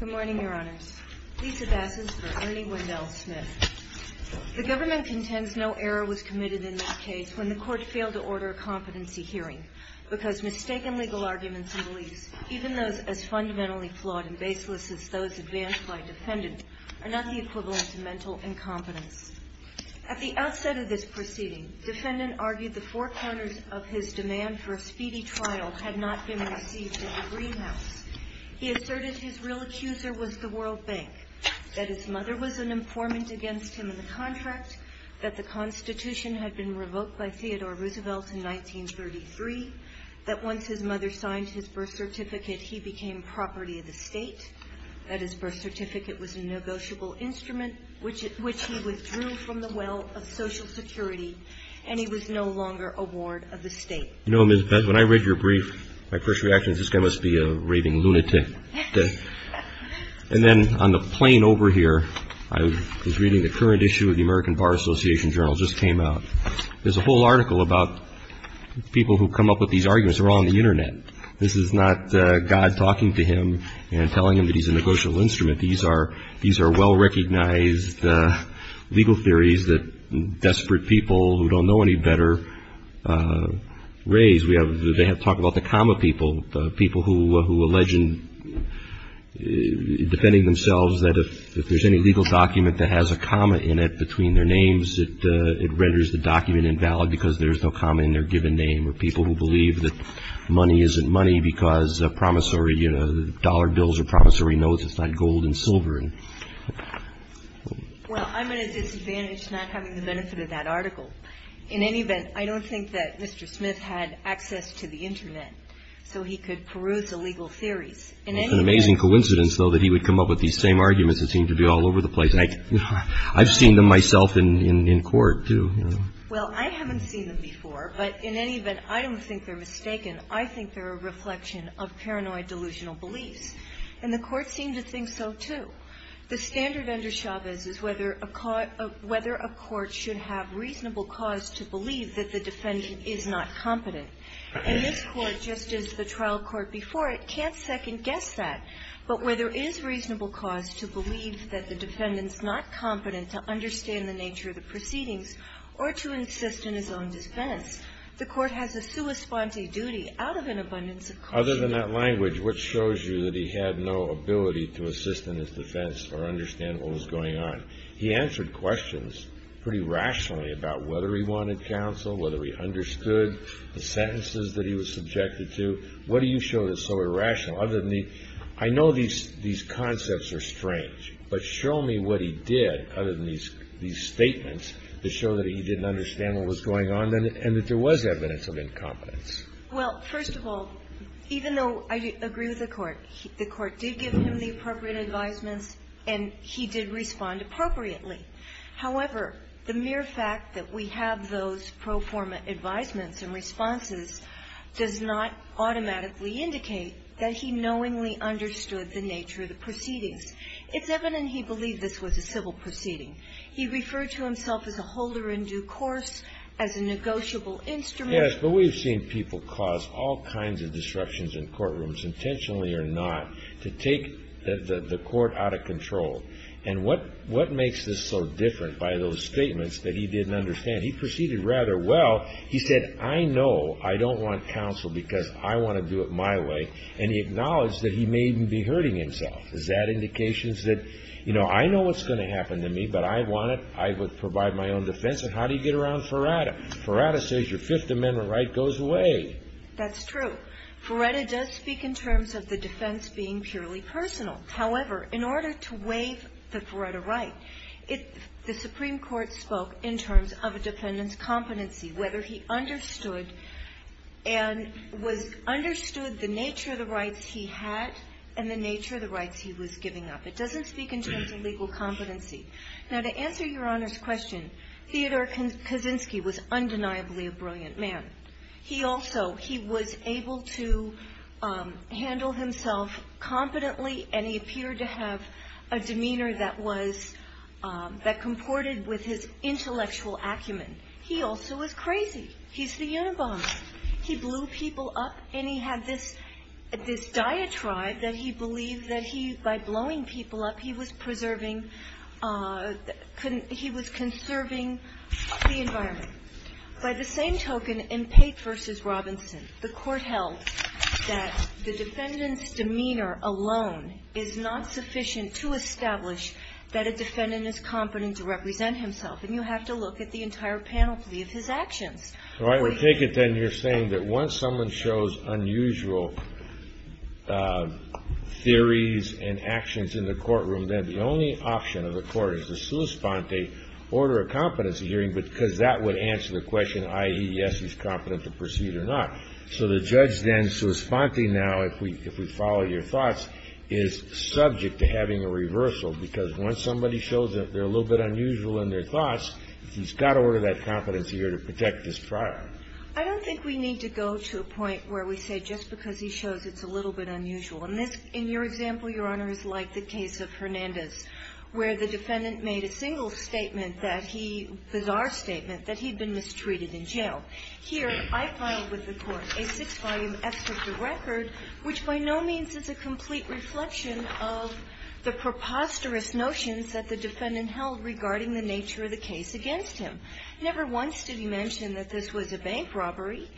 The government contends no error was committed in this case when the court failed to order a competency hearing, because mistaken legal arguments and beliefs, even those as fundamentally flawed and baseless as those advanced by defendants, are not the equivalent to mental incompetence. At the outset of this proceeding, defendant argued the four corners of his demand for a speedy trial had not been received at the Greenhouse. He asserted his real accuser was the World Bank, that his mother was an informant against him in the contract, that the Constitution had been revoked by Theodore Roosevelt in 1933, that once his mother signed his birth certificate, he became property of the state, that his birth certificate was a negotiable instrument, which he withdrew, and that his mother was a woman. He withdrew from the well of Social Security, and he was no longer a ward of the state. desperate people who don't know any better raise. They have talked about the comma people, people who allege in defending themselves that if there's any legal document that has a comma in it between their names, it renders the document invalid because there's no comma in their given name, or people who believe that money isn't money because dollar bills are promissory notes, it's not gold and silver. Well, I'm at a disadvantage not having the benefit of that article. In any event, I don't think that Mr. Smith had access to the Internet, so he could peruse illegal theories. It's an amazing coincidence, though, that he would come up with these same arguments that seem to be all over the place. I've seen them myself in court, too. Well, I haven't seen them before, but in any event, I don't think they're mistaken. I think they're a reflection of paranoid delusional beliefs, and the Court seemed to think so, too. The standard under Chavez is whether a court should have reasonable cause to believe that the defendant is not competent. And this Court, just as the trial court before it, can't second-guess that. But where there is reasonable cause to believe that the defendant's not competent to understand the nature of the proceedings, or to insist in his own defense, the Court has a sua sponte duty out of an abundance of caution. Other than that language, what shows you that he had no ability to assist in his defense or understand what was going on? He answered questions pretty rationally about whether he wanted counsel, whether he understood the sentences that he was subjected to. What do you show that's so irrational? I know these concepts are strange, but show me what he did, other than these statements, to show that he didn't understand what was going on and that there was evidence of incompetence. Well, first of all, even though I agree with the Court, the Court did give him the appropriate advisements, and he did respond appropriately. However, the mere fact that we have those pro forma advisements and responses does not automatically indicate that he knowingly understood the nature of the proceedings. It's evident he believed this was a civil proceeding. He referred to himself as a holder in due course, as a negotiable instrument. Yes, but we've seen people cause all kinds of disruptions in courtrooms, intentionally or not, to take the Court out of control. And what makes this so different by those statements that he didn't understand? He proceeded rather well. He said, I know I don't want counsel because I want to do it my way. And he acknowledged that he may even be hurting himself. Is that indications that, you know, I know what's going to happen to me, but I want it, I would provide my own defense, and how do you get around Ferrata? Ferrata says your Fifth Amendment right goes away. That's true. Ferrata does speak in terms of the defense being purely personal. However, in order to waive the Ferrata right, the Supreme Court spoke in terms of a defendant's competency, whether he understood and was understood the nature of the rights he had and the nature of the rights he was giving up. It doesn't speak in terms of legal competency. Now, to answer Your Honor's question, Theodore Kaczynski was undeniably a brilliant man. He also, he was able to handle himself competently, and he appeared to have a demeanor that was, that comported with his intellectual acumen. He also was crazy. He's the Unabomber. He blew people up, and he had this, this diatribe that he believed that he, by blowing people up, he was preserving, he was conserving the environment. By the same token, in Pate v. Robinson, the Court held that the defendant's demeanor alone is not sufficient to establish that a defendant is competent to represent himself. And you have to look at the entire panoply of his actions. Well, I would take it then you're saying that once someone shows unusual theories and actions in the courtroom, then the only option of the Court is to sua sponte, order a competency hearing, because that would answer the question, i.e., yes, he's competent to proceed or not. So the judge then sua sponte now, if we follow your thoughts, is subject to having a reversal, because once somebody shows that they're a little bit unusual in their thoughts, he's got to order that competency hearing to protect his prior. I don't think we need to go to a point where we say just because he shows it's a little bit unusual. And this, in your example, Your Honor, is like the case of Hernandez, where the defendant made a single statement that he, bizarre statement, that he'd been mistreated in jail. Here, I filed with the Court a six-volume excerpt of record which by no means is a complete reflection of the preposterous notions that the defendant held regarding the nature of the case against him. Never once did he mention that this was a bank robbery.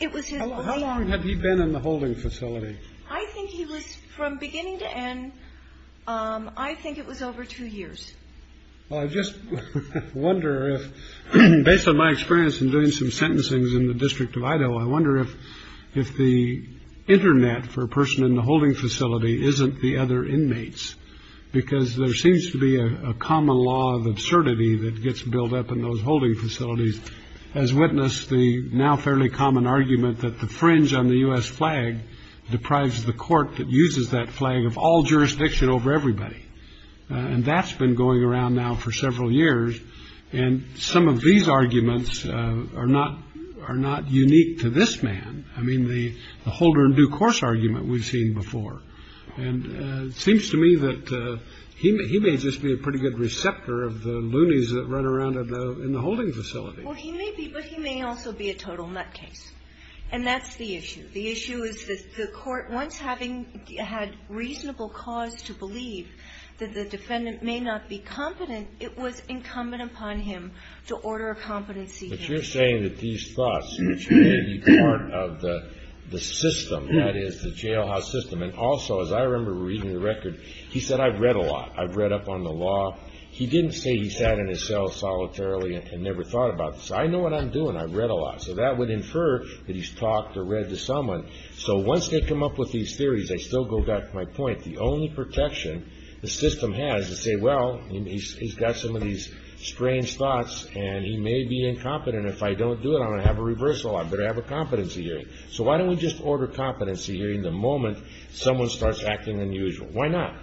It was his claim. How long had he been in the holding facility? I think he was, from beginning to end, I think it was over two years. Well, I just wonder if, based on my experience in doing some sentencing in the District of Idaho, I wonder if the Internet for a person in the holding facility isn't the other inmates, because there seems to be a common law of absurdity that gets built up in those holding facilities, as witnessed the now fairly common argument that the fringe on the U.S. flag deprives the court that uses that flag of all jurisdiction over everybody. And that's been going around now for several years. And some of these arguments are not unique to this man. I mean, the holder in due course argument we've seen before. And it seems to me that he may just be a pretty good receptor of the loonies that run around in the holding facility. Well, he may be, but he may also be a total nutcase. And that's the issue. The issue is that the court, once having had reasonable cause to believe that the defendant may not be competent, it was incumbent upon him to order a competency case. But you're saying that these thoughts, which may be part of the system, that is, the jailhouse system, and also, as I remember reading the record, he said, I've read a lot. I've read up on the law. He didn't say he sat in his cell solitarily and never thought about this. I know what I'm doing. I've read a lot. So that would infer that he's talked or read to someone. So once they come up with these theories, I still go back to my point. The only protection the system has is to say, well, he's got some of these strange thoughts and he may be incompetent. If I don't do it, I'm going to have a reversal. I better have a competency hearing. So why don't we just order competency hearing the moment someone starts acting unusual? Why not?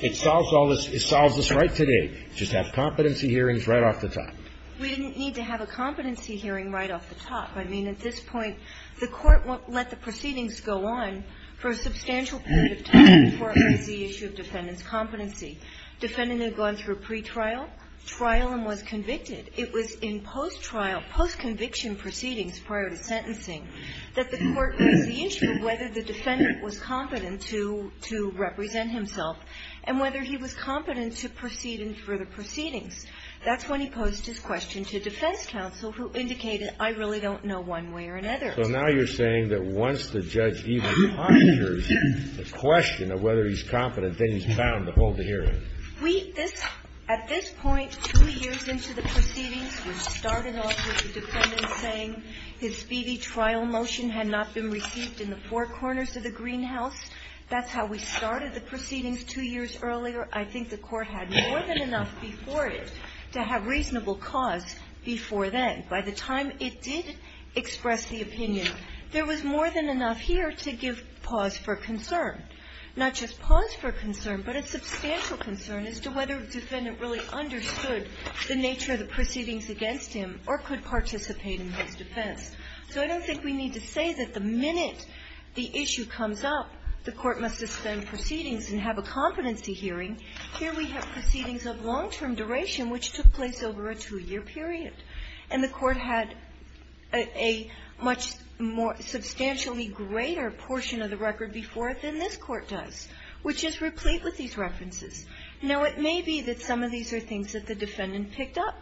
It solves all this. It solves this right today. Just have competency hearings right off the top. We didn't need to have a competency hearing right off the top. I mean, at this point, the Court let the proceedings go on for a substantial period of time before it raised the issue of defendant's competency. Defendant had gone through a pretrial, trial, and was convicted. It was in post-trial, post-conviction proceedings prior to sentencing that the Court raised the issue of whether the defendant was competent to represent himself and whether he was competent to proceed in further proceedings. That's when he posed his question to defense counsel, who indicated, I really don't know one way or another. So now you're saying that once the judge even ponders the question of whether he's competent, then he's bound to hold the hearing. We at this point, two years into the proceedings, we started off with the defendant saying his speedy trial motion had not been received in the four corners of the greenhouse. That's how we started the proceedings two years earlier. I think the Court had more than enough before it to have reasonable cause before then. By the time it did express the opinion, there was more than enough here to give pause for concern. Not just pause for concern, but a substantial concern as to whether the defendant really understood the nature of the proceedings against him or could participate in his defense. So I don't think we need to say that the minute the issue comes up, the Court must suspend proceedings and have a competency hearing. Here we have proceedings of long-term duration, which took place over a two-year period. And the Court had a much more substantially greater portion of the record before it than this Court does, which is replete with these references. Now, it may be that some of these are things that the defendant picked up.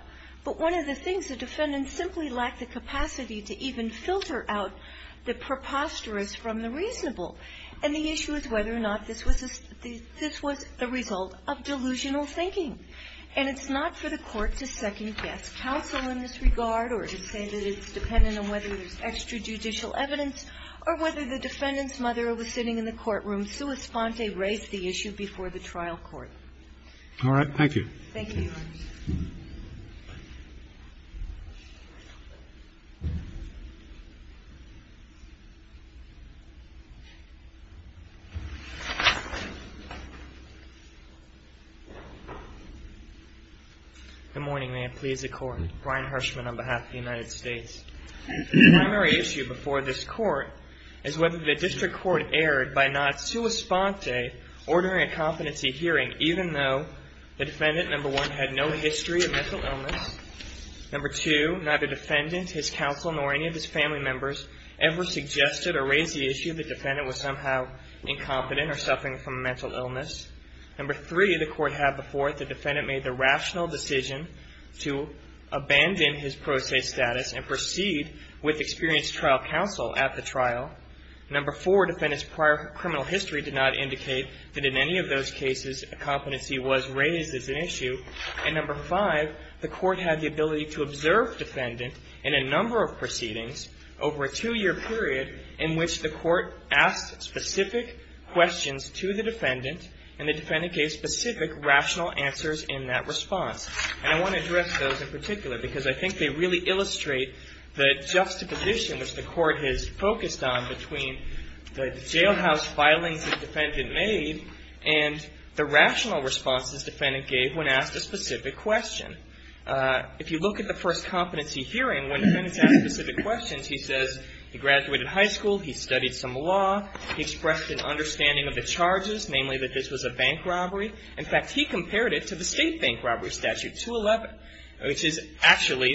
But one of the things, the defendant simply lacked the capacity to even filter out the preposterous from the reasonable. And the issue is whether or not this was a result of delusional thinking. And it's not for the Court to second-guess counsel in this regard or to say that it's dependent on whether there's extrajudicial evidence or whether the defendant's mother was sitting in the courtroom sua sponte res the issue before the trial court. All right. Thank you. Thank you. Good morning. May it please the Court. Brian Hershman on behalf of the United States. The primary issue before this Court is whether the district court erred by not sua sponte or during a competency hearing even though the defendant, number one, had no history of mental illness. Number two, neither defendant, his counsel, nor any of his family members ever suggested or raised the issue the defendant was somehow incompetent or suffering from a mental illness. Number three, the Court had before it the defendant made the rational decision to abandon his pro se status and proceed with experienced trial counsel at the trial. Number four, defendant's prior criminal history did not indicate that in any of those cases a competency was raised as an issue. And number five, the Court had the ability to observe defendant in a number of proceedings over a two-year period in which the Court asked specific questions to the defendant and the defendant gave specific rational answers in that response. And I want to address those in particular because I think they really illustrate the juxtaposition which the Court has focused on between the jailhouse filings the defendant made and the rational responses defendant gave when asked a specific question. If you look at the first competency hearing, when defendant's asked specific questions, he says he graduated high school, he studied some law, he expressed an understanding of the charges, namely that this was a bank robbery. In fact, he compared it to the state bank robbery statute, 211, which is actually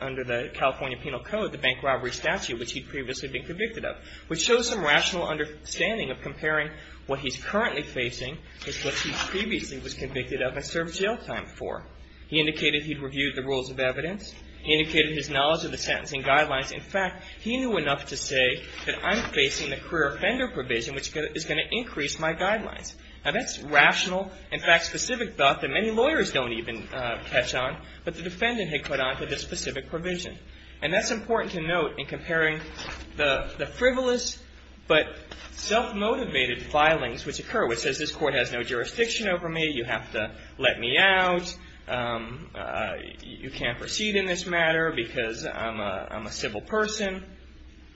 under the California Penal Code, the bank robbery statute, which he'd previously been convicted of, which shows some rational understanding of comparing what he's currently facing with what he previously was convicted of and served jail time for. He indicated he'd reviewed the rules of evidence. He indicated his knowledge of the sentencing guidelines. In fact, he knew enough to say that I'm facing the career offender provision, which is going to increase my guidelines. Now, that's rational, in fact, specific thought that many lawyers don't even catch on, but the defendant had caught on to this specific provision. And that's important to note in comparing the frivolous but self-motivated filings which occur, which says this court has no jurisdiction over me, you have to let me out, you can't proceed in this matter because I'm a civil person.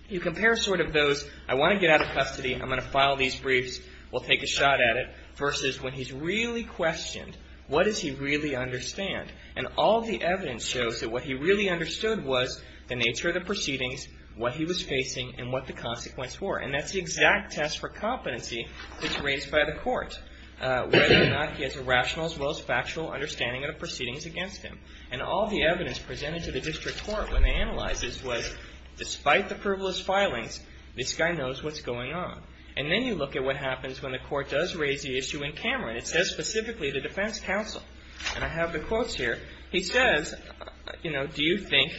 You compare sort of those, I want to get out of custody, I'm going to file these briefs, we'll take a shot at it, versus when he's really questioned, what does he really understand? And all the evidence shows that what he really understood was the nature of the proceedings, what he was facing, and what the consequences were. And that's the exact test for competency that's raised by the court, whether or not he has a rational as well as factual understanding of the proceedings against him. And all the evidence presented to the district court when they analyzed this was despite the frivolous filings, this guy knows what's going on. And then you look at what happens when the court does raise the issue in Cameron. It says specifically the defense counsel, and I have the quotes here. He says, you know, do you think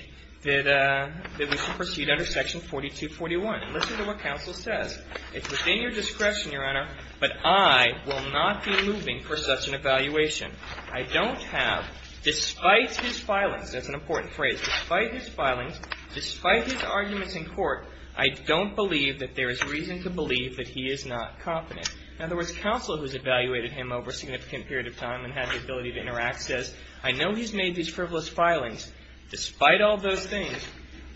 that we should proceed under section 4241? And listen to what counsel says. It's within your discretion, Your Honor, but I will not be moving for such an evaluation. I don't have, despite his filings, that's an important phrase, despite his filings, despite his arguments in court, I don't believe that there is reason to believe that he is not competent. In other words, counsel who's evaluated him over a significant period of time and had the ability to interact says, I know he's made these frivolous filings. Despite all those things,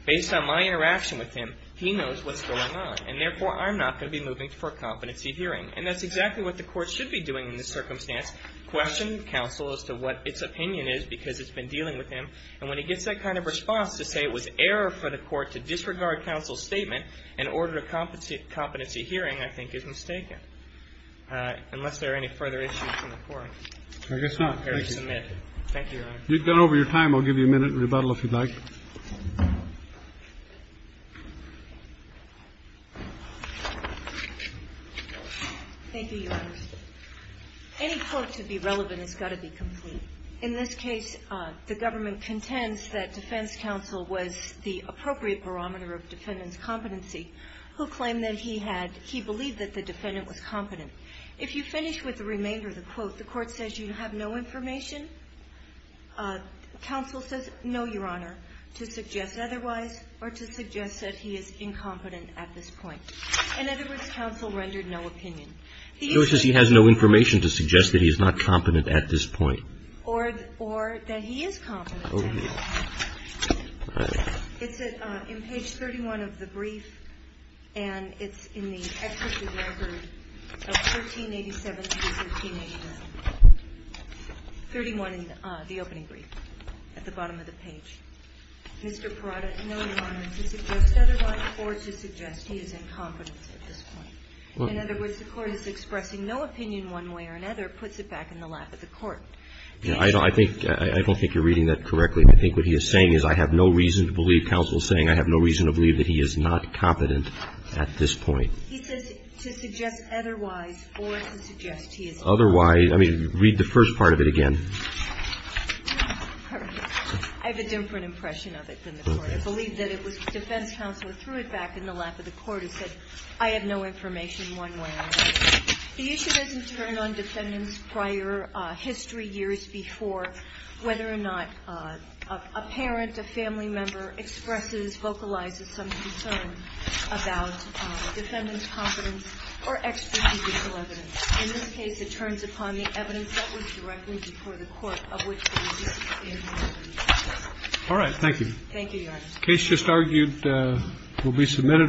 based on my interaction with him, he knows what's going on. And therefore, I'm not going to be moving for competency hearing. And that's exactly what the court should be doing in this circumstance, question counsel as to what its opinion is because it's been dealing with him. And when he gets that kind of response to say it was error for the court to disregard counsel's statement, an order of competency hearing, I think, is mistaken, unless there are any further issues in the court. I guess not. Thank you. Thank you, Your Honor. You've gone over your time. I'll give you a minute in rebuttal if you'd like. Thank you, Your Honor. Any quote to be relevant has got to be complete. In this case, the government contends that defense counsel was the appropriate barometer of defendant's competency who claimed that he had he believed that the defendant was competent. If you finish with the remainder of the quote, the court says you have no information. Counsel says, no, Your Honor, to suggest otherwise or to suggest that he is incompetent at this point. In other words, counsel rendered no opinion. So it says he has no information to suggest that he is not competent at this point. Or that he is competent. All right. It's in page 31 of the brief. And it's in the exercise record of 1387 to 1389. 31 in the opening brief at the bottom of the page. Mr. Parada, no, Your Honor, to suggest otherwise or to suggest he is incompetent at this point. In other words, the court is expressing no opinion one way or another, puts it back in the lap of the court. I don't think you're reading that correctly. I think what he is saying is I have no reason to believe counsel is saying I have no reason to believe that he is not competent at this point. He says to suggest otherwise or to suggest he is incompetent. Otherwise. I mean, read the first part of it again. All right. I have a different impression of it than the court. I believe that it was defense counsel threw it back in the lap of the court and said, I have no information one way or another. The issue doesn't turn on defendants prior history, years before, whether or not a parent, a family member expresses, vocalizes some concern about defendant's competence or extrajudicial evidence. In this case, it turns upon the evidence that was directly before the court of which the indictment is. All right. Thank you. Thank you, Your Honor. The case just argued will be submitted.